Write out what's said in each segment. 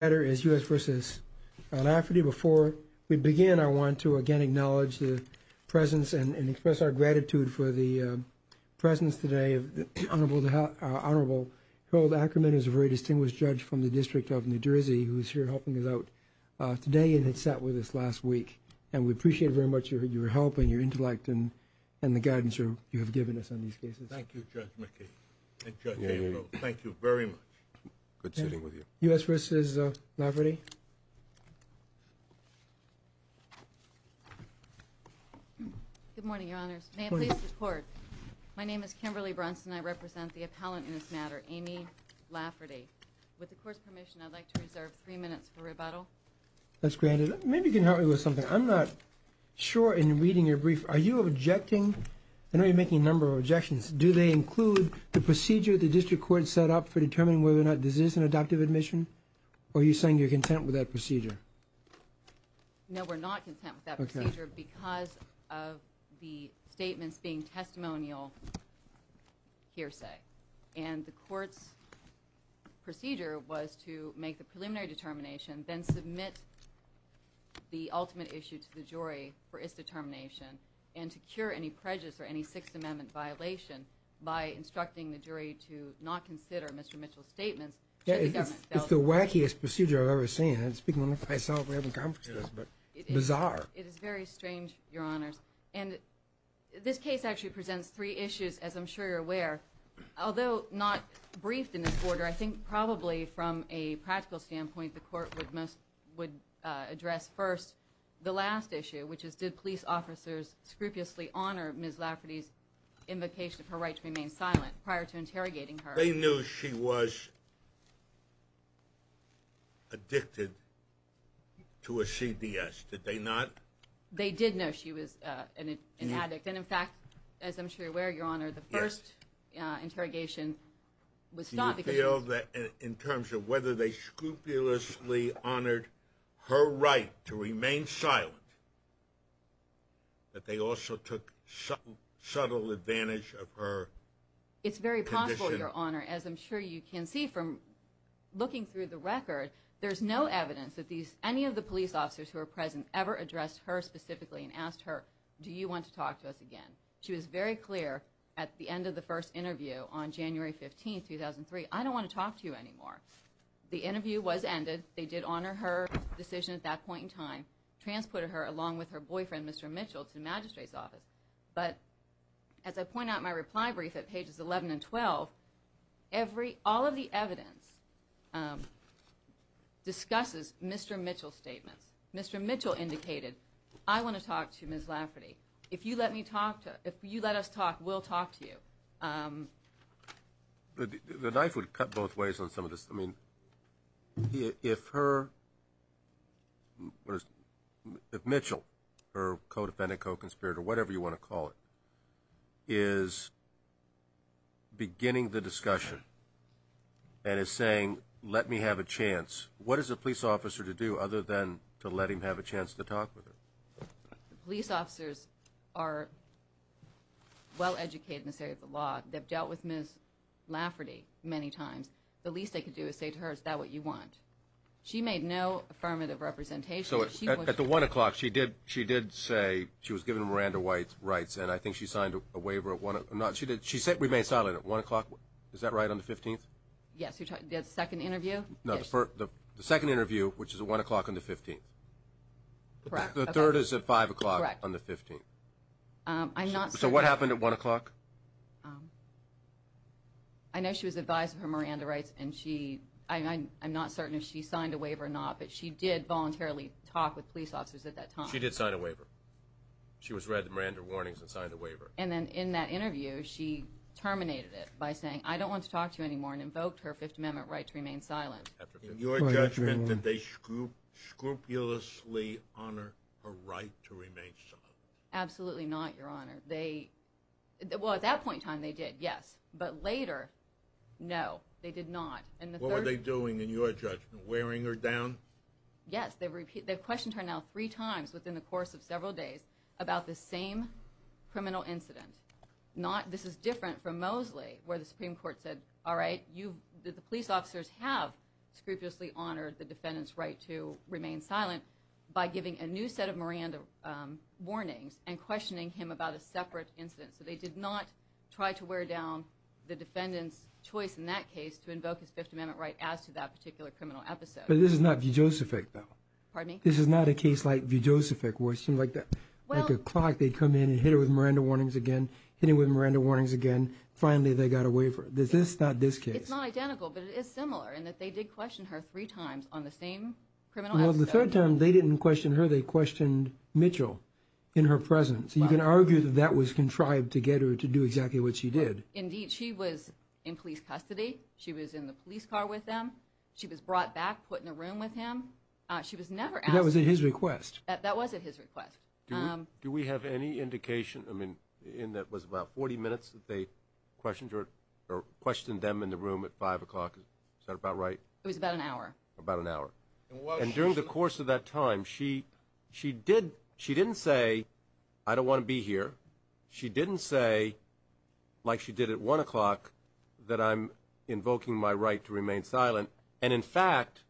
Before we begin, I want to again acknowledge the presence and express our gratitude for the presence today of the Honorable Harold Ackerman, who is a very distinguished judge from the District of New Jersey, who is here helping us out today and had sat with us last week. And we appreciate very much your help and your intellect and the guidance you have given us on these cases. Thank you, Judge McKee and Judge Averill. Thank you very much. Good sitting with you. U.S. v. Lafferty Good morning, Your Honors. May I please report? My name is Kimberly Brunson. I represent the appellant in this matter, Amy Lafferty. With the Court's permission, I'd like to reserve three minutes for rebuttal. That's granted. Maybe you can help me with something. I'm not sure in reading your brief. Are you objecting? I know you're making a number of objections. Do they include the procedure the district court set up for determining whether or not this is an adoptive admission? Or are you saying you're content with that procedure? No, we're not content with that procedure because of the statements being testimonial hearsay. And the Court's procedure was to make the preliminary determination, then submit the ultimate issue to the jury for its determination, and to cure any prejudice or any Sixth Amendment violation by instructing the jury to not consider Mr. Mitchell's statements. It's the wackiest procedure I've ever seen. It's bizarre. It is very strange, Your Honors. And this case actually presents three issues, as I'm sure you're aware. Although not briefed in this order, I think probably from a practical standpoint, the Court would address first the last issue, which is did police officers scrupulously honor Ms. Lafferty's invocation of her right to remain silent prior to interrogating her? They knew she was addicted to a CDS, did they not? They did know she was an addict. And, in fact, as I'm sure you're aware, Your Honor, the first interrogation was stopped. Do you feel that in terms of whether they scrupulously honored her right to remain silent, that they also took subtle advantage of her condition? It's very possible, Your Honor, as I'm sure you can see from looking through the record, there's no evidence that any of the police officers who were present ever addressed her specifically and asked her, do you want to talk to us again? She was very clear at the end of the first interview on January 15, 2003, I don't want to talk to you anymore. The interview was ended. They did honor her decision at that point in time, transported her along with her boyfriend, Mr. Mitchell, to the magistrate's office. But, as I point out in my reply brief at pages 11 and 12, all of the evidence discusses Mr. Mitchell's statements. Mr. Mitchell indicated, I want to talk to Ms. Lafferty. If you let us talk, we'll talk to you. The knife would cut both ways on some of this. If Mitchell, her co-defendant, co-conspirator, whatever you want to call it, is beginning the discussion and is saying, let me have a chance, what is a police officer to do other than to let him have a chance to talk with her? The police officers are well-educated in the area of the law. They've dealt with Ms. Lafferty many times. The least they could do is say to her, is that what you want? She made no affirmative representation. At the 1 o'clock, she did say she was given Miranda White's rights, and I think she signed a waiver at 1 o'clock. She remained silent at 1 o'clock, is that right, on the 15th? Yes, the second interview? No, the second interview, which is at 1 o'clock on the 15th. The third is at 5 o'clock on the 15th. So what happened at 1 o'clock? I know she was advised of her Miranda rights, and I'm not certain if she signed a waiver or not, but she did voluntarily talk with police officers at that time. She did sign a waiver. She was read the Miranda warnings and signed a waiver. And then in that interview, she terminated it by saying, I don't want to talk to you anymore, and invoked her Fifth Amendment right to remain silent. In your judgment, did they scrupulously honor her right to remain silent? Absolutely not, Your Honor. Well, at that point in time, they did, yes. But later, no, they did not. What were they doing, in your judgment? Wearing her down? Yes, they questioned her now three times within the course of several days about the same criminal incident. This is different from Mosley, where the Supreme Court said, all right, the police officers have scrupulously honored the defendant's right to remain silent by giving a new set of Miranda warnings and questioning him about a separate incident. So they did not try to wear down the defendant's choice in that case to invoke his Fifth Amendment right as to that particular criminal episode. But this is not Vujocevic, though. Pardon me? This is not a case like Vujocevic, where it seemed like a clock. They'd come in and hit her with Miranda warnings again, hit her with Miranda warnings again. Finally, they got a waiver. This is not this case. It's not identical, but it is similar in that they did question her three times on the same criminal episode. Well, the third time, they didn't question her. They questioned Mitchell in her presence. You can argue that that was contrived to get her to do exactly what she did. Indeed. She was in police custody. She was in the police car with them. She was brought back, put in a room with him. She was never asked. But that was at his request. That was at his request. Do we have any indication, I mean, in that it was about 40 minutes that they questioned her or questioned them in the room at 5 o'clock? Is that about right? It was about an hour. About an hour. And during the course of that time, she didn't say, I don't want to be here. She didn't say, like she did at 1 o'clock, that I'm invoking my right to remain silent. And, in fact,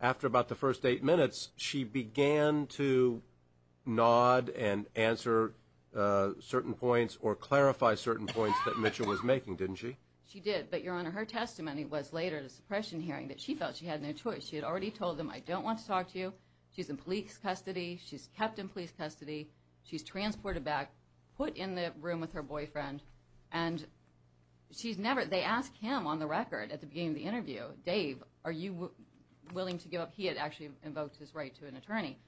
after about the first eight minutes, she began to nod and answer certain points or clarify certain points that Mitchell was making, didn't she? She did. But, Your Honor, her testimony was later at a suppression hearing that she felt she had no choice. She had already told them, I don't want to talk to you. She's in police custody. She's kept in police custody. She's transported back, put in the room with her boyfriend. And they asked him on the record at the beginning of the interview, Dave, are you willing to give up? He had actually invoked his right to an attorney.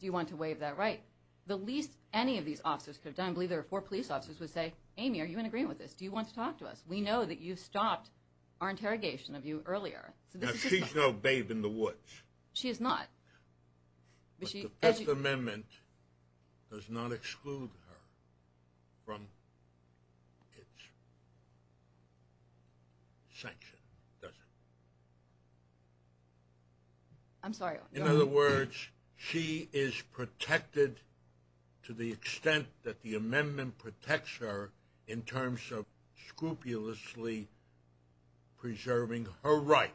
Do you want to waive that right? The least any of these officers could have done, I believe there were four police officers, would say, Amy, are you in agreement with this? Do you want to talk to us? We know that you stopped our interrogation of you earlier. Now, she's no Dave in the woods. She is not. But the Fifth Amendment does not exclude her from its sanction, does it? I'm sorry. In other words, she is protected to the extent that the amendment protects her in terms of scrupulously preserving her right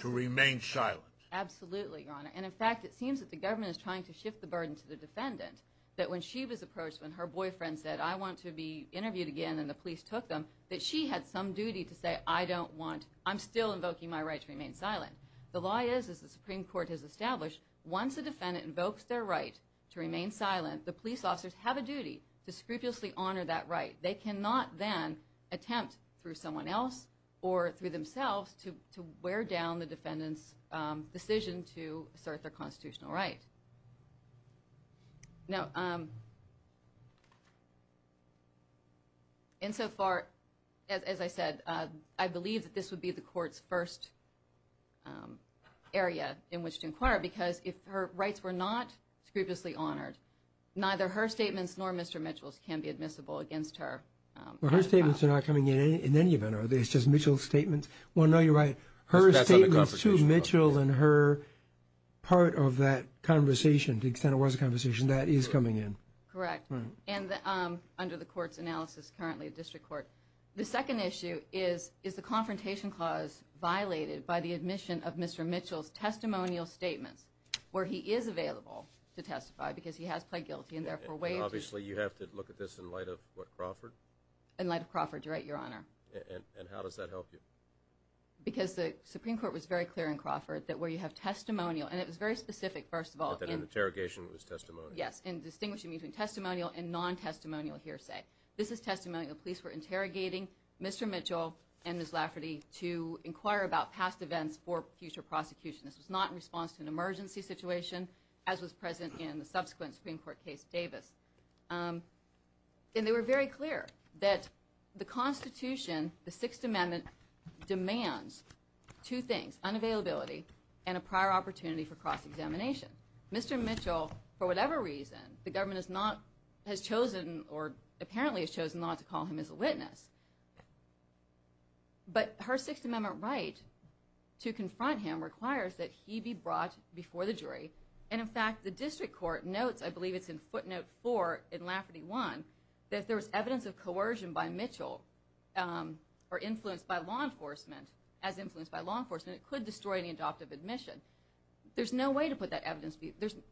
to remain silent. Absolutely, Your Honor. And, in fact, it seems that the government is trying to shift the burden to the defendant, that when she was approached, when her boyfriend said, I want to be interviewed again, and the police took them, that she had some duty to say, I don't want, I'm still invoking my right to remain silent. The lie is, as the Supreme Court has established, once a defendant invokes their right to remain silent, the police officers have a duty to scrupulously honor that right. They cannot then attempt, through someone else or through themselves, to wear down the defendant's decision to assert their constitutional right. Insofar, as I said, I believe that this would be the Court's first area in which to inquire, because if her rights were not scrupulously honored, neither her statements nor Mr. Mitchell's can be admissible against her. Well, her statements are not coming in in any event, are they? It's just Mitchell's statements? Well, no, you're right. Her statements to Mitchell and her part of that conversation, to the extent it was a conversation, that is coming in. Correct. And under the Court's analysis, currently a district court. The second issue is, is the Confrontation Clause violated by the admission of Mr. Mitchell's testimonial statements, where he is available to testify because he has pled guilty and therefore waived. Obviously, you have to look at this in light of what, Crawford? In light of Crawford, you're right, Your Honor. And how does that help you? Because the Supreme Court was very clear in Crawford that where you have testimonial, and it was very specific, first of all. That an interrogation was testimonial? Yes, in distinguishing between testimonial and non-testimonial hearsay. This is testimonial. Police were interrogating Mr. Mitchell and Ms. Lafferty to inquire about past events for future prosecution. This was not in response to an emergency situation, as was present in the subsequent Supreme Court case, Davis. And they were very clear that the Constitution, the Sixth Amendment, demands two things. Unavailability and a prior opportunity for cross-examination. Mr. Mitchell, for whatever reason, the government has chosen or apparently has chosen not to call him as a witness. But her Sixth Amendment right to confront him requires that he be brought before the jury. And, in fact, the district court notes, I believe it's in footnote four in Lafferty 1, that if there was evidence of coercion by Mitchell or influence by law enforcement, as influenced by law enforcement, it could destroy any adoptive admission. There's no way to put that evidence.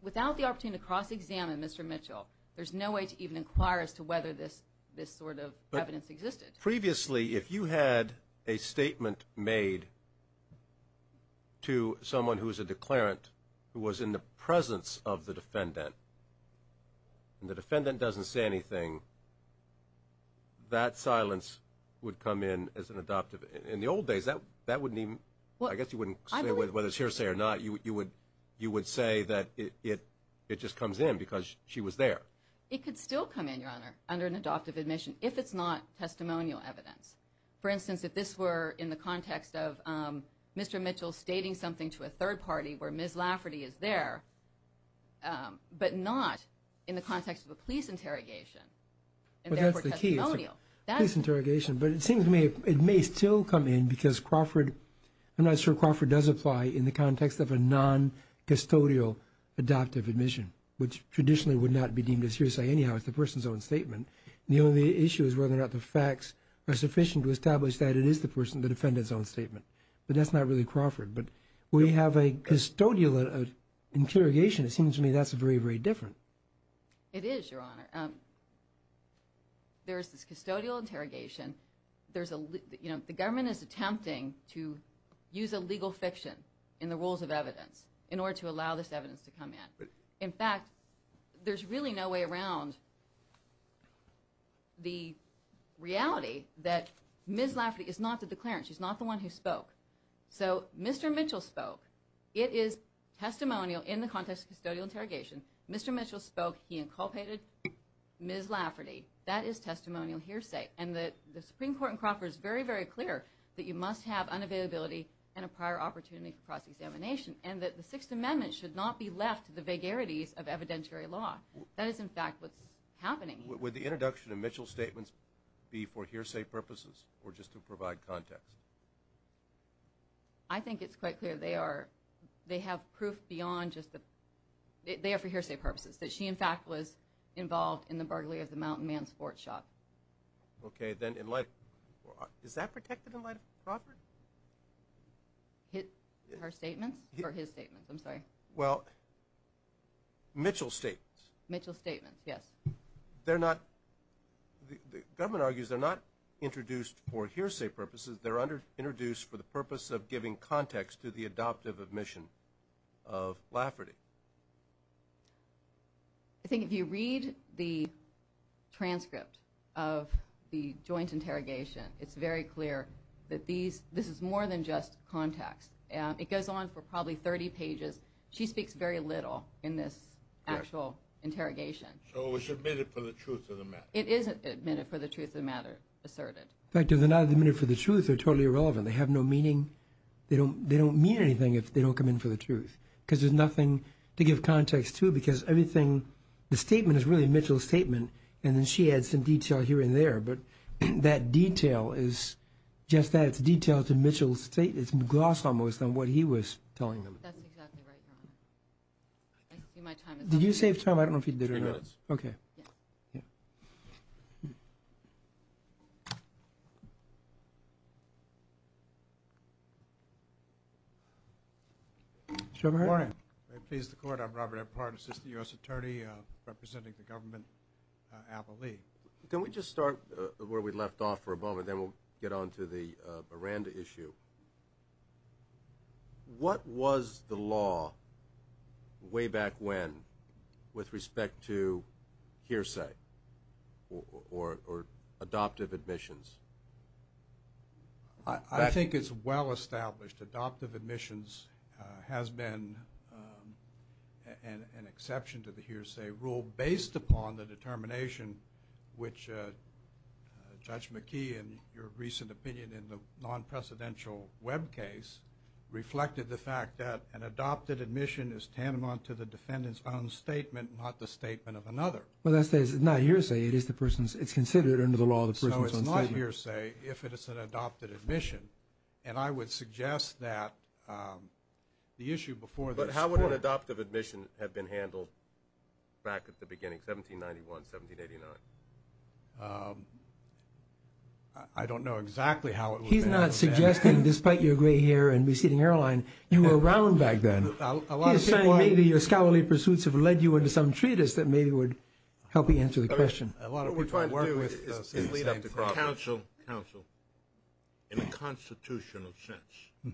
Without the opportunity to cross-examine Mr. Mitchell, there's no way to even inquire as to whether this sort of evidence existed. Previously, if you had a statement made to someone who is a declarant who was in the presence of the defendant and the defendant doesn't say anything, that silence would come in as an adoptive. In the old days, that wouldn't even – I guess you wouldn't say whether it's hearsay or not. You would say that it just comes in because she was there. It could still come in, Your Honor, under an adoptive admission if it's not testimonial evidence. For instance, if this were in the context of Mr. Mitchell stating something to a third party where Ms. Lafferty is there, but not in the context of a police interrogation and therefore testimonial. But that's the key. It's a police interrogation. But it seems to me it may still come in because Crawford – I'm not sure Crawford does apply in the context of a non-custodial adoptive admission, which traditionally would not be deemed as hearsay anyhow. It's the person's own statement. The only issue is whether or not the facts are sufficient to establish that it is the person, the defendant's own statement. But that's not really Crawford. But we have a custodial interrogation. It seems to me that's very, very different. It is, Your Honor. There is this custodial interrogation. There's a – you know, the government is attempting to use illegal fiction in the rules of evidence in order to allow this evidence to come in. In fact, there's really no way around the reality that Ms. Lafferty is not the declarant. She's not the one who spoke. So Mr. Mitchell spoke. It is testimonial in the context of custodial interrogation. Mr. Mitchell spoke. He inculpated Ms. Lafferty. That is testimonial hearsay. And the Supreme Court in Crawford is very, very clear that you must have unavailability and a prior opportunity for cross-examination and that the Sixth Amendment should not be left to the vagarities of evidentiary law. That is, in fact, what's happening here. Would the introduction of Mitchell's statements be for hearsay purposes or just to provide context? I think it's quite clear they are – they have proof beyond just the – they are for hearsay purposes, that she, in fact, was involved in the burglary of the Mountain Man sports shop. Okay. Then in light – is that protected in light of Crawford? Her statements or his statements? I'm sorry. Well, Mitchell's statements. Mitchell's statements, yes. They're not – the government argues they're not introduced for hearsay purposes. They're introduced for the purpose of giving context to the adoptive admission of Lafferty. I think if you read the transcript of the joint interrogation, it's very clear that these – this is more than just context. It goes on for probably 30 pages. She speaks very little in this actual interrogation. So it's admitted for the truth of the matter. It is admitted for the truth of the matter, asserted. In fact, if they're not admitted for the truth, they're totally irrelevant. They have no meaning. They don't mean anything if they don't come in for the truth because there's nothing to give context to because everything – the statement is really Mitchell's statement, and then she adds some detail here and there, but that detail is just that. It's a detail to Mitchell's – it's gloss almost on what he was telling them. That's exactly right, Your Honor. I see my time is up. Did you save time? I don't know if you did or not. Three minutes. Okay. Yeah. Yeah. Sherman. Good morning. Very pleased to court. I'm Robert Eppard, assistant U.S. attorney representing the government, Appleby. Can we just start where we left off for a moment, and then we'll get on to the Miranda issue? What was the law way back when with respect to hearsay or adoptive admissions? I think it's well-established. Adoptive admissions has been an exception to the hearsay rule based upon the determination which Judge McKee, in your recent opinion in the non-presidential Webb case, reflected the fact that an adopted admission is tantamount to the defendant's own statement, not the statement of another. Well, that's not hearsay. It's considered under the law the person's own statement. So it's not hearsay if it is an adopted admission. And I would suggest that the issue before this court – But how would an adoptive admission have been handled back at the beginning, 1791, 1789? I don't know exactly how it would have been handled back then. He's not suggesting, despite your gray hair and receding hairline, you were around back then. He's saying maybe your scholarly pursuits have led you into some treatise that maybe would help you answer the question. What we're trying to do is complete up the problem. Counsel, counsel, in a constitutional sense,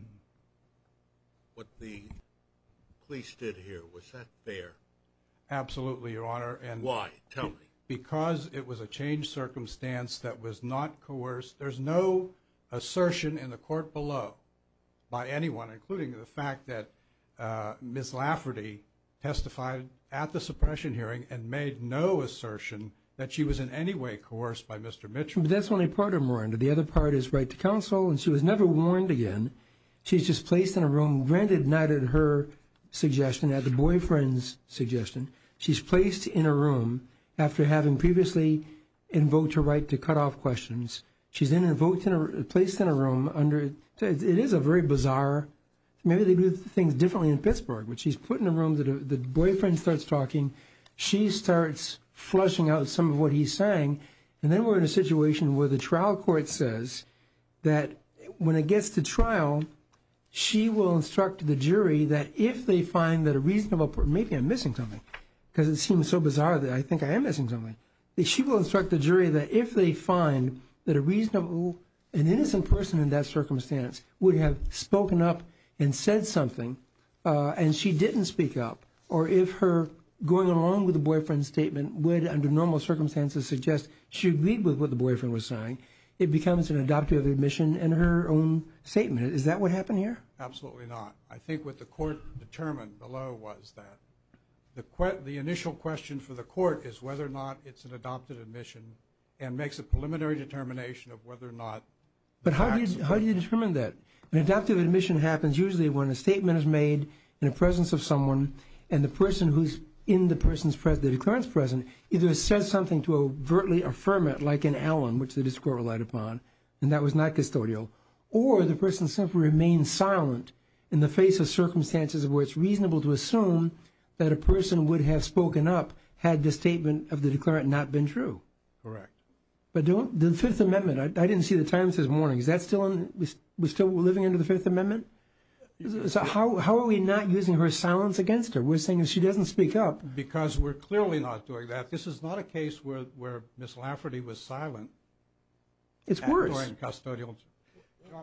what the police did here, was that fair? Absolutely, Your Honor. Why? Tell me. Because it was a changed circumstance that was not coerced. There's no assertion in the court below by anyone, including the fact that Ms. Lafferty testified at the suppression hearing and made no assertion that she was in any way coerced by Mr. Mitchell. But that's only part of Miranda. The other part is right to counsel, and she was never warned again. She's just placed in a room, granted not at her suggestion, at the boyfriend's suggestion. She's placed in a room after having previously invoked her right to cut off questions. She's placed in a room. It is a very bizarre. Maybe they do things differently in Pittsburgh. But she's put in a room. The boyfriend starts talking. She starts flushing out some of what he's saying. And then we're in a situation where the trial court says that when it gets to trial, she will instruct the jury that if they find that a reasonable person, maybe I'm missing something because it seems so bizarre that I think I am missing something, that she will instruct the jury that if they find that a reasonable, an innocent person in that circumstance would have spoken up and said something and she didn't speak up, or if her going along with the boyfriend's statement would, under normal circumstances, suggest she agreed with what the boyfriend was saying, it becomes an adoptive admission in her own statement. Is that what happened here? Absolutely not. I think what the court determined below was that the initial question for the court is whether or not it's an adoptive admission and makes a preliminary determination of whether or not. But how do you determine that? An adoptive admission happens usually when a statement is made in the presence of someone either says something to overtly affirm it, like in Allen, which the district court relied upon, and that was not custodial, or the person simply remains silent in the face of circumstances where it's reasonable to assume that a person would have spoken up had the statement of the declarant not been true. Correct. But the Fifth Amendment, I didn't see the Times this morning, is that still living under the Fifth Amendment? So how are we not using her silence against her? We're saying if she doesn't speak up. Because we're clearly not doing that. This is not a case where Miss Lafferty was silent. It's worse. During custodial.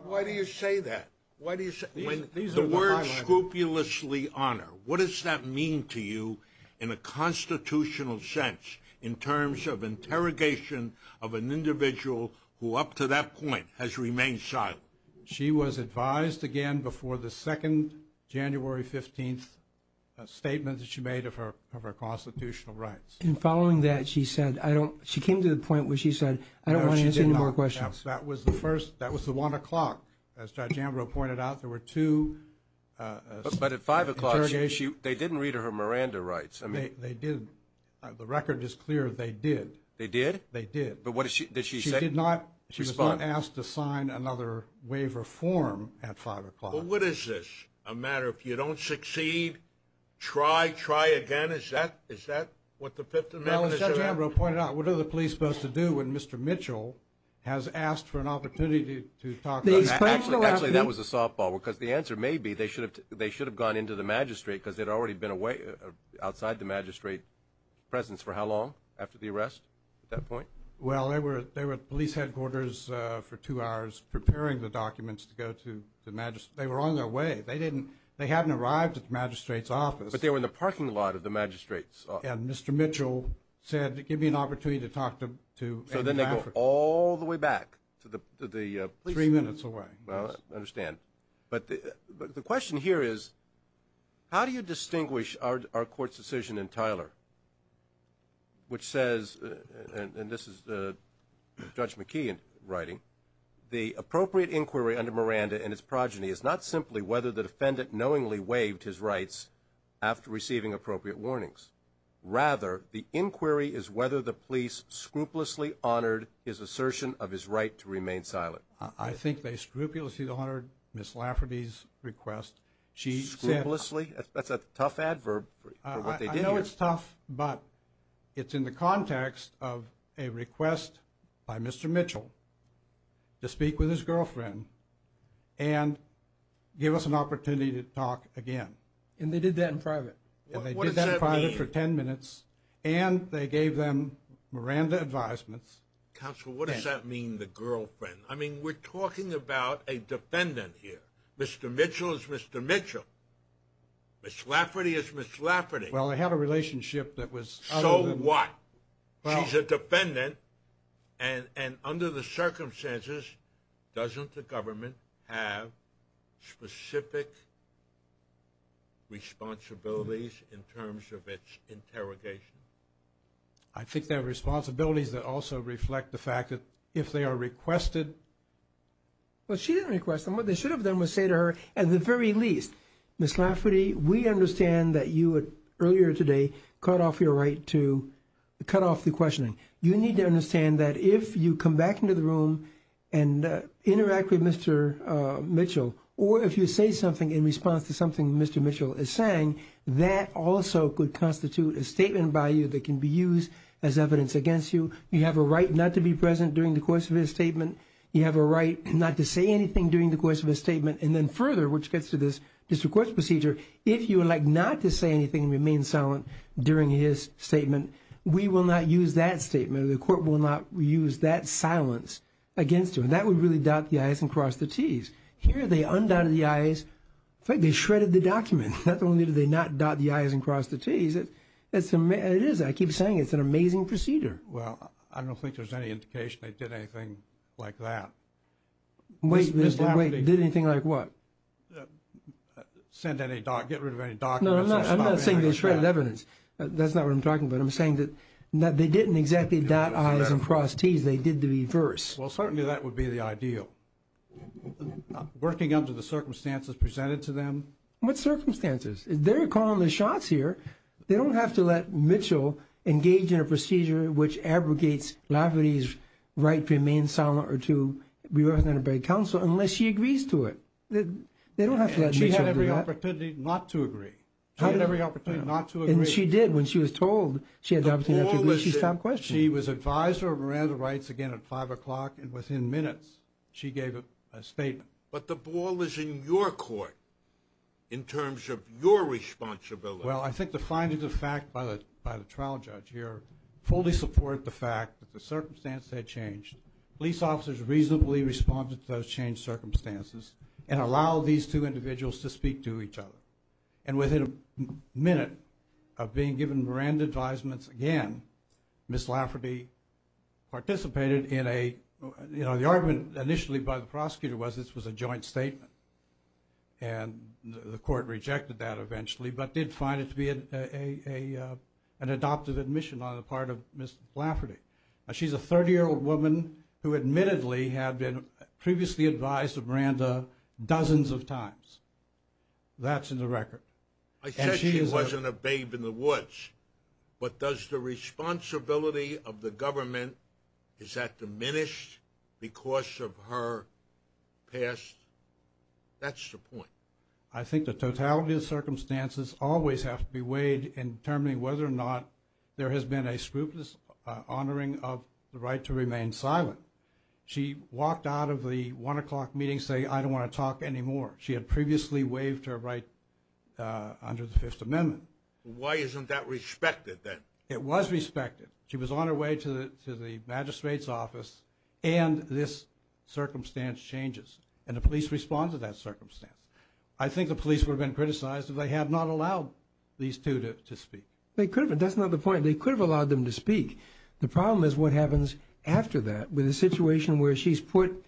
Why do you say that? The word scrupulously honor, what does that mean to you in a constitutional sense in terms of interrogation of an individual who up to that point has remained silent? She was advised again before the second January 15th statement that she made of her constitutional rights. And following that, she came to the point where she said, I don't want to answer any more questions. No, she did not. That was the one o'clock. As Judge Ambrose pointed out, there were two interrogations. But at five o'clock, they didn't read her Miranda rights. They didn't. The record is clear, they did. They did? They did. But what did she say? She did not. She was not asked to sign another waiver form at five o'clock. Well, what is this? A matter if you don't succeed, try, try again? Is that what the Fifth Amendment is about? Well, as Judge Ambrose pointed out, what are the police supposed to do when Mr. Mitchell has asked for an opportunity to talk? Actually, that was a softball because the answer may be they should have gone into the magistrate because they'd already been outside the magistrate's presence for how long after the arrest at that point? Well, they were at the police headquarters for two hours preparing the documents to go to the magistrate. They were on their way. They hadn't arrived at the magistrate's office. But they were in the parking lot of the magistrate's office. And Mr. Mitchell said, give me an opportunity to talk to Amy Patrick. So then they go all the way back to the police station. Three minutes away. I understand. But the question here is, how do you distinguish our court's decision in Tyler, which says, and this is Judge McKee in writing, the appropriate inquiry under Miranda and its progeny is not simply whether the defendant knowingly waived his rights after receiving appropriate warnings. Rather, the inquiry is whether the police scrupulously honored his assertion of his right to remain silent. I think they scrupulously honored Ms. Lafferty's request. Scrupulously? That's a tough adverb for what they did here. I know it's tough, but it's in the context of a request by Mr. Mitchell to speak with his girlfriend and give us an opportunity to talk again. And they did that in private. And they did that in private for 10 minutes. What does that mean? And they gave them Miranda advisements. Counsel, what does that mean, the girlfriend? I mean, we're talking about a defendant here. Mr. Mitchell is Mr. Mitchell. Ms. Lafferty is Ms. Lafferty. Well, they had a relationship that was other than that. So what? She's a defendant, and under the circumstances, doesn't the government have specific responsibilities in terms of its interrogation? I think there are responsibilities that also reflect the fact that if they are requested. Well, she didn't request them. What they should have done was say to her, at the very least, Ms. Lafferty, we understand that you earlier today cut off your right to cut off the questioning. You need to understand that if you come back into the room and interact with Mr. Mitchell or if you say something in response to something Mr. Mitchell is saying, that also could constitute a statement by you that can be used as evidence against you. You have a right not to be present during the course of his statement. You have a right not to say anything during the course of his statement. And then further, which gets to this district court's procedure, if you would like not to say anything and remain silent during his statement, we will not use that statement or the court will not use that silence against you. And that would really dot the i's and cross the t's. Here they undotted the i's. In fact, they shredded the document. Not only did they not dot the i's and cross the t's, it is, I keep saying, it's an amazing procedure. Well, I don't think there's any indication they did anything like that. Wait, wait. Did anything like what? Get rid of any documents. No, I'm not saying they shredded evidence. That's not what I'm talking about. I'm saying that they didn't exactly dot i's and cross t's. They did the reverse. Well, certainly that would be the ideal. Working under the circumstances presented to them. What circumstances? They're calling the shots here. They don't have to let Mitchell engage in a procedure which abrogates Lafferty's right to remain silent or to be represented by counsel unless she agrees to it. They don't have to let Mitchell do that. And she had every opportunity not to agree. She had every opportunity not to agree. And she did. When she was told she had the opportunity not to agree, she stopped questioning. She was advisor of Miranda Rights again at 5 o'clock, and within minutes she gave a statement. But the ball is in your court in terms of your responsibility. Well, I think the findings of fact by the trial judge here fully support the fact that the circumstance had changed. Police officers reasonably responded to those changed circumstances and allowed these two individuals to speak to each other. And within a minute of being given Miranda advisements again, Ms. Lafferty participated in a, you know, the argument initially by the prosecutor was this was a joint statement. And the court rejected that eventually but did find it to be an adoptive admission on the part of Ms. Lafferty. She's a 30-year-old woman who admittedly had been previously advised of Miranda dozens of times. That's in the record. I said she wasn't a babe in the woods. But does the responsibility of the government, is that diminished because of her past? That's the point. I think the totality of circumstances always have to be weighed in determining whether or not there has been a scrupulous honoring of the right to remain silent. She walked out of the 1 o'clock meeting saying, I don't want to talk anymore. She had previously waived her right under the Fifth Amendment. Why isn't that respected then? It was respected. She was on her way to the magistrate's office and this circumstance changes. And the police respond to that circumstance. I think the police would have been criticized if they had not allowed these two to speak. They could have. That's not the point. They could have allowed them to speak. The problem is what happens after that with a situation where she's put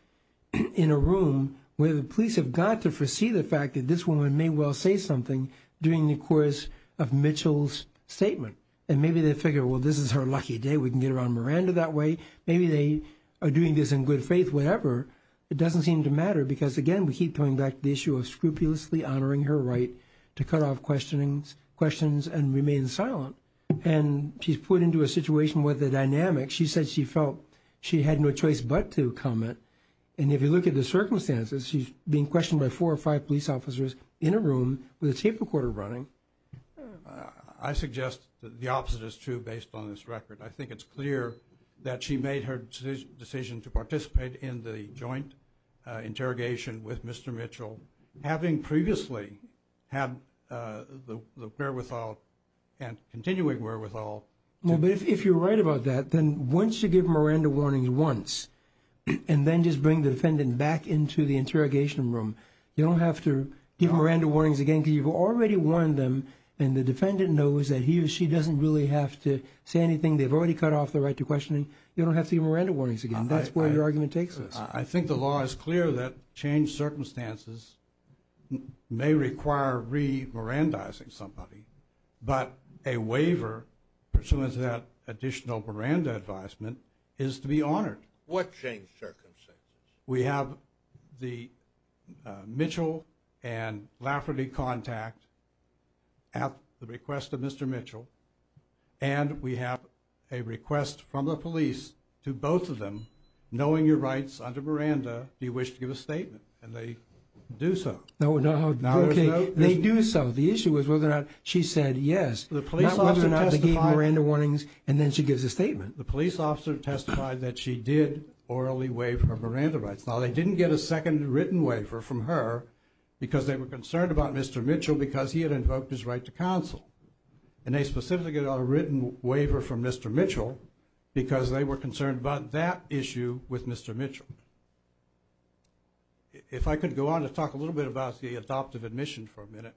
in a room where the police have got to as well say something during the course of Mitchell's statement. And maybe they figure, well, this is her lucky day. We can get around Miranda that way. Maybe they are doing this in good faith, whatever. It doesn't seem to matter because, again, we keep coming back to the issue of scrupulously honoring her right to cut off questions and remain silent. And she's put into a situation where the dynamics, she said she felt she had no choice but to comment. And if you look at the circumstances, she's being questioned by four or five police officers in a room with a tape recorder running. I suggest that the opposite is true based on this record. I think it's clear that she made her decision to participate in the joint interrogation with Mr. Mitchell, having previously had the wherewithal and continuing wherewithal. Well, but if you're right about that, then once you give Miranda warnings once and then just bring the defendant back into the interrogation room, you don't have to give Miranda warnings again because you've already warned them and the defendant knows that he or she doesn't really have to say anything. They've already cut off the right to questioning. You don't have to give Miranda warnings again. That's where your argument takes us. I think the law is clear that changed circumstances may require re-Mirandaizing somebody, but a waiver pursuant to that additional Miranda advisement is to be honored. What changed circumstances? We have the Mitchell and Lafferty contact at the request of Mr. Mitchell, and we have a request from the police to both of them, knowing your rights under Miranda, do you wish to give a statement? And they do so. No, no. Okay. They do so. The issue is whether or not she said yes, not whether or not they gave Miranda warnings and then she gives a statement. The police officer testified that she did orally waive her Miranda rights. Now, they didn't get a second written waiver from her because they were concerned about Mr. Mitchell because he had invoked his right to counsel, and they specifically got a written waiver from Mr. Mitchell because they were concerned about that issue with Mr. Mitchell. If I could go on to talk a little bit about the adoptive admission for a minute.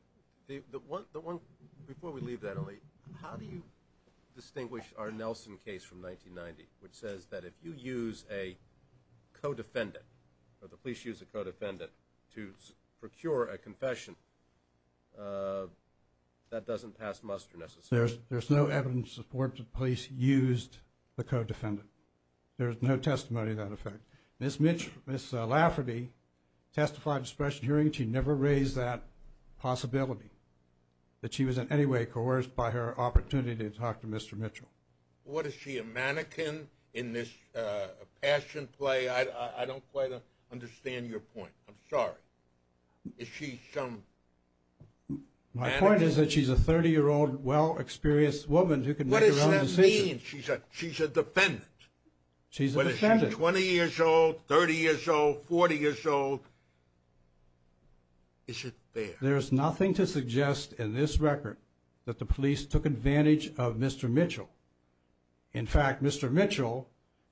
Before we leave that, how do you distinguish our Nelson case from 1990, which says that if you use a co-defendant or the police use a co-defendant to procure a confession, that doesn't pass muster necessarily? There's no evidence that the police used the co-defendant. There's no testimony to that effect. Ms. Lafferty testified in a special hearing she never raised that possibility, that she was in any way coerced by her opportunity to talk to Mr. Mitchell. What is she, a mannequin in this passion play? I don't quite understand your point. I'm sorry. Is she some mannequin? My point is that she's a 30-year-old, well-experienced woman who can make her own decisions. What does that mean? She's a defendant. She's a defendant. She's 20 years old, 30 years old, 40 years old. Is it fair? There's nothing to suggest in this record that the police took advantage of Mr. Mitchell. In fact, Mr. Mitchell,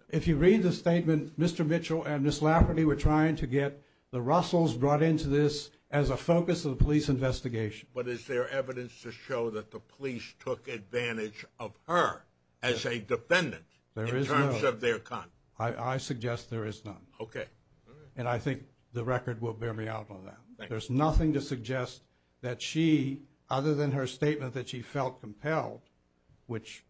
if you read the statement, Mr. Mitchell and Ms. Lafferty were trying to get the Russells brought into this as a focus of the police investigation. But is there evidence to show that the police took advantage of her as a defendant in terms of their conduct? I suggest there is none. Okay. And I think the record will bear me out on that. There's nothing to suggest that she, other than her statement that she felt compelled, which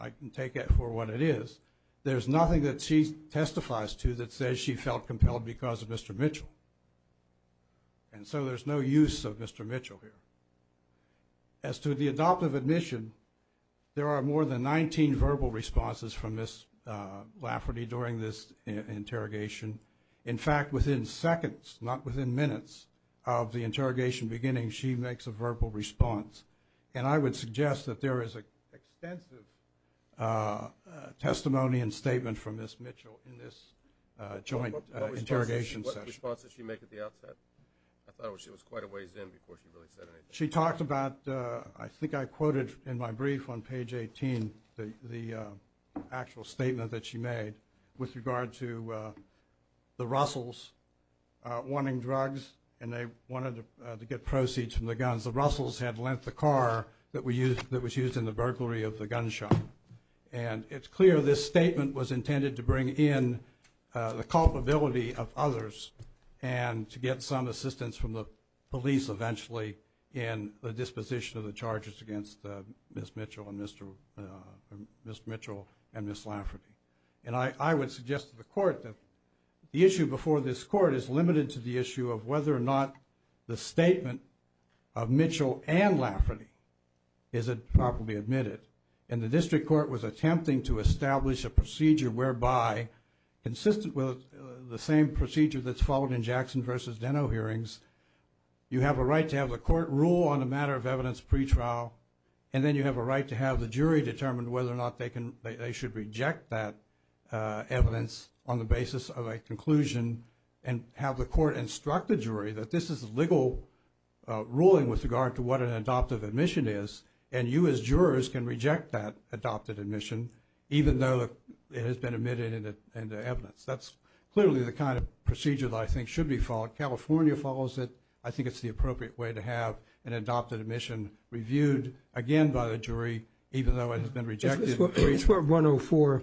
I can take it for what it is, there's nothing that she testifies to that says she felt compelled because of Mr. Mitchell. And so there's no use of Mr. Mitchell here. As to the adoptive admission, there are more than 19 verbal responses from Ms. Lafferty during this interrogation. In fact, within seconds, not within minutes of the interrogation beginning, she makes a verbal response. And I would suggest that there is an extensive testimony and statement from Ms. Mitchell in this joint interrogation session. What response did she make at the outset? I thought she was quite a ways in before she really said anything. She talked about, I think I quoted in my brief on page 18, the actual statement that she made with regard to the Russells wanting drugs and they wanted to get proceeds from the guns. The Russells had lent the car that was used in the burglary of the gun shop. And it's clear this statement was intended to bring in the culpability of others and to get some assistance from the police eventually in the disposition of the charges against Ms. Mitchell and Ms. Lafferty. And I would suggest to the court that the issue before this court is limited to the issue of whether or not the statement of Mitchell and Lafferty is properly admitted. And the district court was attempting to establish a procedure whereby, consistent with the same procedure that's followed in Jackson versus Deno hearings, you have a right to have the court rule on a matter of evidence pretrial and then you have a right to have the jury determine whether or not they should reject that evidence on the basis of a conclusion and have the court instruct the jury that this is a legal ruling with regard to what an adoptive admission is and you as jurors can reject that adopted admission even though it has been admitted into evidence. That's clearly the kind of procedure that I think should be followed. California follows it. I think it's the appropriate way to have an adopted admission reviewed again by the jury even though it has been rejected. This is where 104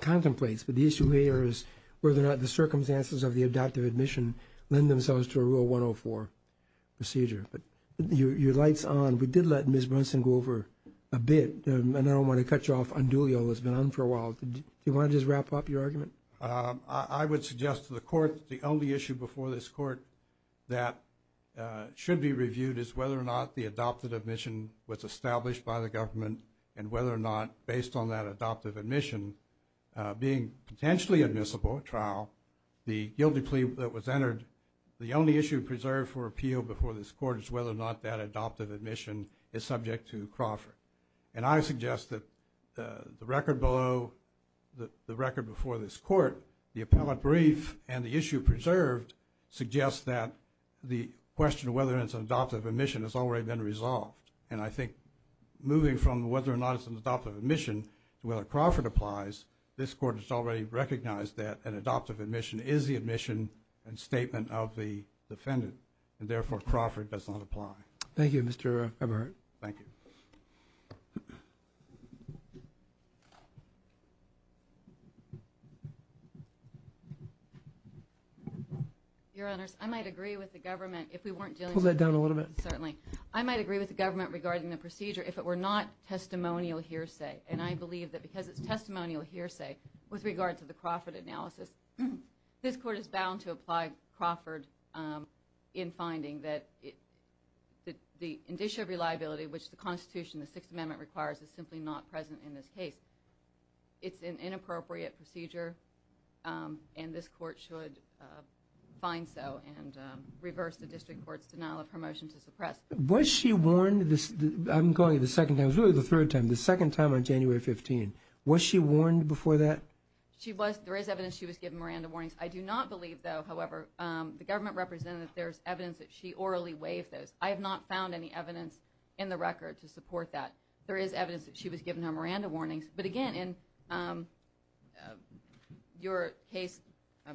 contemplates. But the issue here is whether or not the circumstances of the adoptive admission lend themselves to a Rule 104 procedure. Your light's on. We did let Ms. Brunson go over a bit. I don't want to cut you off on Doolio. It's been on for a while. Do you want to just wrap up your argument? I would suggest to the court the only issue before this court that should be reviewed is whether or not the adoptive admission was established by the government and whether or not based on that adoptive admission being potentially admissible trial, the guilty plea that was entered, the only issue preserved for appeal before this court is whether or not that adoptive admission is subject to Crawford. And I suggest that the record below, the record before this court, the appellate brief and the issue preserved suggests that the question of whether it's an adoptive admission has already been resolved. And I think moving from whether or not it's an adoptive admission to whether Crawford applies, this court has already recognized that an adoptive admission is the admission and statement of the defendant, and therefore Crawford does not apply. Thank you, Mr. Everett. Thank you. Your Honors, I might agree with the government if we weren't dealing with the procedure. Pull that down a little bit. Certainly. I might agree with the government regarding the procedure if it were not testimonial hearsay. And I believe that because it's testimonial hearsay with regard to the Crawford analysis, this court is bound to apply Crawford in finding that the indicia reliability, which the Constitution, the Sixth Amendment requires, is simply not present in this case. It's an inappropriate procedure, and this court should find so and reverse the district court's denial of her motion to suppress. Was she warned, I'm going to the second time, this is really the third time, the second time on January 15th. Was she warned before that? She was. There is evidence she was given Miranda warnings. I do not believe, though, however, the government represented that there's evidence that she orally waived those. I have not found any evidence in the record to support that. There is evidence that she was given her Miranda warnings. But, again, in your case, I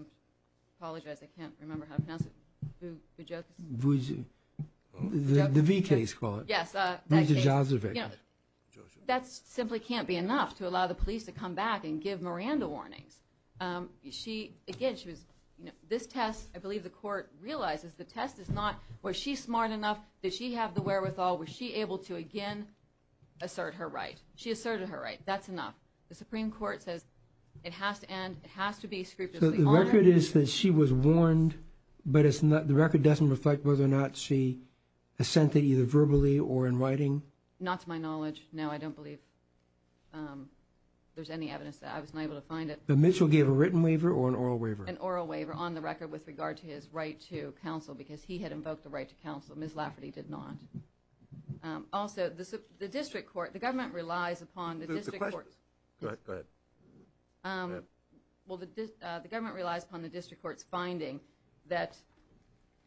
apologize, I can't remember how to pronounce it. The V case, call it. Yes. That simply can't be enough to allow the police to come back and give Miranda warnings. Again, this test, I believe the court realizes the test is not, was she smart enough, did she have the wherewithal, was she able to, again, assert her right. She asserted her right. That's enough. So the record is that she was warned, but the record doesn't reflect whether or not she assented either verbally or in writing? Not to my knowledge. No, I don't believe there's any evidence that I was able to find it. But Mitchell gave a written waiver or an oral waiver? An oral waiver on the record with regard to his right to counsel because he had invoked the right to counsel. Ms. Lafferty did not. Also, the district court, the government relies upon the district court. Go ahead. Well, the government relies upon the district court's finding,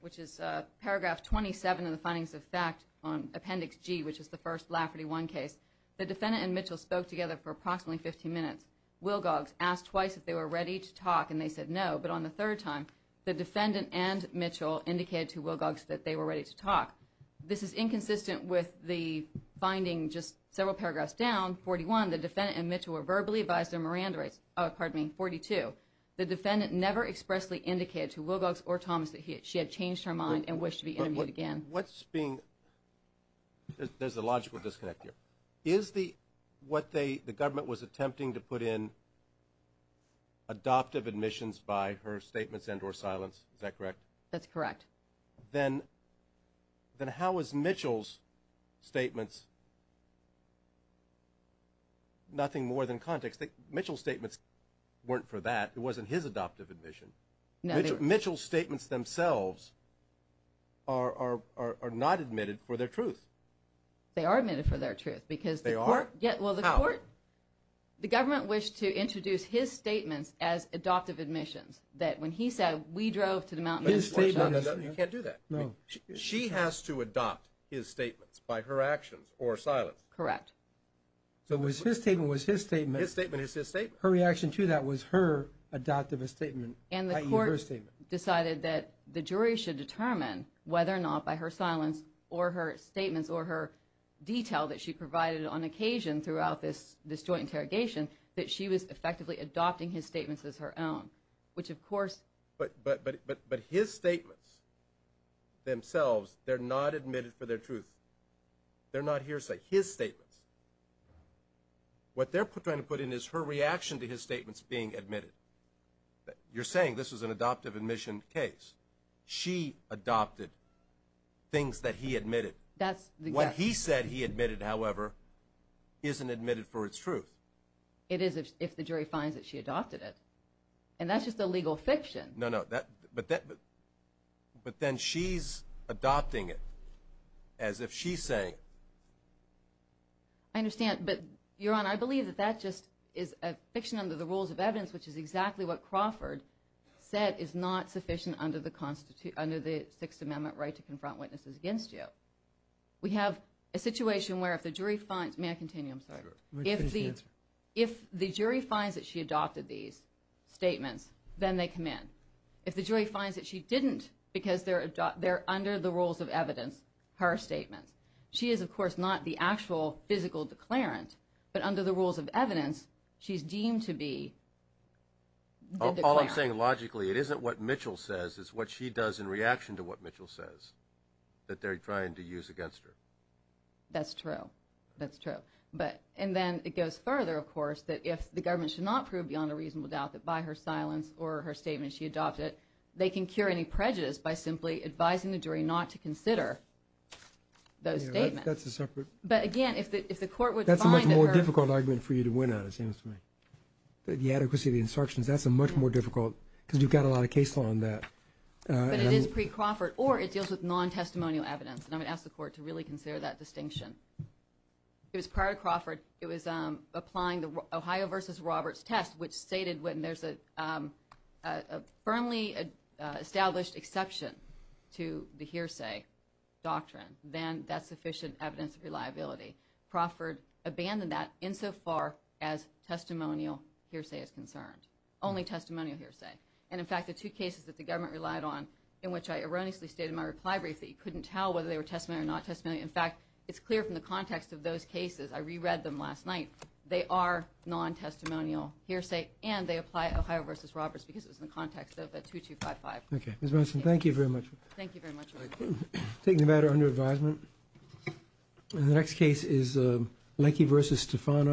which is paragraph 27 of the findings of fact on Appendix G, which is the first Lafferty 1 case. The defendant and Mitchell spoke together for approximately 15 minutes. Wilgogs asked twice if they were ready to talk, and they said no. But on the third time, the defendant and Mitchell indicated to Wilgogs that they were ready to talk. This is inconsistent with the finding just several paragraphs down, 41, the defendant and Mitchell were verbally advised their Miranda rights, pardon me, 42. The defendant never expressly indicated to Wilgogs or Thomas that she had changed her mind and wished to be interviewed again. What's being – there's a logical disconnect here. Is the – what the government was attempting to put in adoptive admissions by her statements and or silence, is that correct? That's correct. Then how is Mitchell's statements nothing more than context? Mitchell's statements weren't for that. It wasn't his adoptive admission. Mitchell's statements themselves are not admitted for their truth. They are admitted for their truth because the court – They are? How? The government wished to introduce his statements as adoptive admissions, that when he said, we drove to the mountain – You can't do that. No. She has to adopt his statements by her actions or silence. Correct. So it was his statement was his statement. His statement is his statement. Her reaction to that was her adoptive statement, i.e., her statement. And the court decided that the jury should determine whether or not by her silence or her statements or her detail that she provided on occasion throughout this joint interrogation that she was effectively adopting his statements as her own, which of course – But his statements themselves, they're not admitted for their truth. They're not hearsay. His statements, what they're trying to put in is her reaction to his statements being admitted. You're saying this was an adoptive admission case. She adopted things that he admitted. That's the – What he said he admitted, however, isn't admitted for its truth. It is if the jury finds that she adopted it. And that's just a legal fiction. No, no. But then she's adopting it as if she's saying it. I understand. But, Your Honor, I believe that that just is a fiction under the rules of evidence, which is exactly what Crawford said is not sufficient under the Sixth Amendment right to confront witnesses against you. I'm sorry. If the jury finds that she adopted these statements, then they come in. If the jury finds that she didn't because they're under the rules of evidence, her statements. She is, of course, not the actual physical declarant, but under the rules of evidence she's deemed to be the declarant. All I'm saying logically, it isn't what Mitchell says. It's what she does in reaction to what Mitchell says that they're trying to use against her. That's true. That's true. And then it goes further, of course, that if the government should not prove beyond a reasonable doubt that by her silence or her statement she adopted it, they can cure any prejudice by simply advising the jury not to consider those statements. That's a separate. But, again, if the court would find that her... That's a much more difficult argument for you to win on, it seems to me. The adequacy of the instructions, that's a much more difficult because you've got a lot of case law on that. But it is pre-Crawford, or it deals with non-testimonial evidence, and I'm going to ask the court to really consider that distinction. It was prior to Crawford. It was applying the Ohio v. Roberts test, which stated when there's a firmly established exception to the hearsay doctrine, then that's sufficient evidence of reliability. Crawford abandoned that insofar as testimonial hearsay is concerned, only testimonial hearsay. And, in fact, the two cases that the government relied on, in which I erroneously stated in my reply brief that you couldn't tell whether they were testimony or not testimony. In fact, it's clear from the context of those cases. I re-read them last night. They are non-testimonial hearsay, and they apply Ohio v. Roberts because it was in the context of that 2255. Okay. Ms. Monson, thank you very much. Thank you very much. Thank you. Taking the matter under advisement, the next case is Leckie v. Stefano.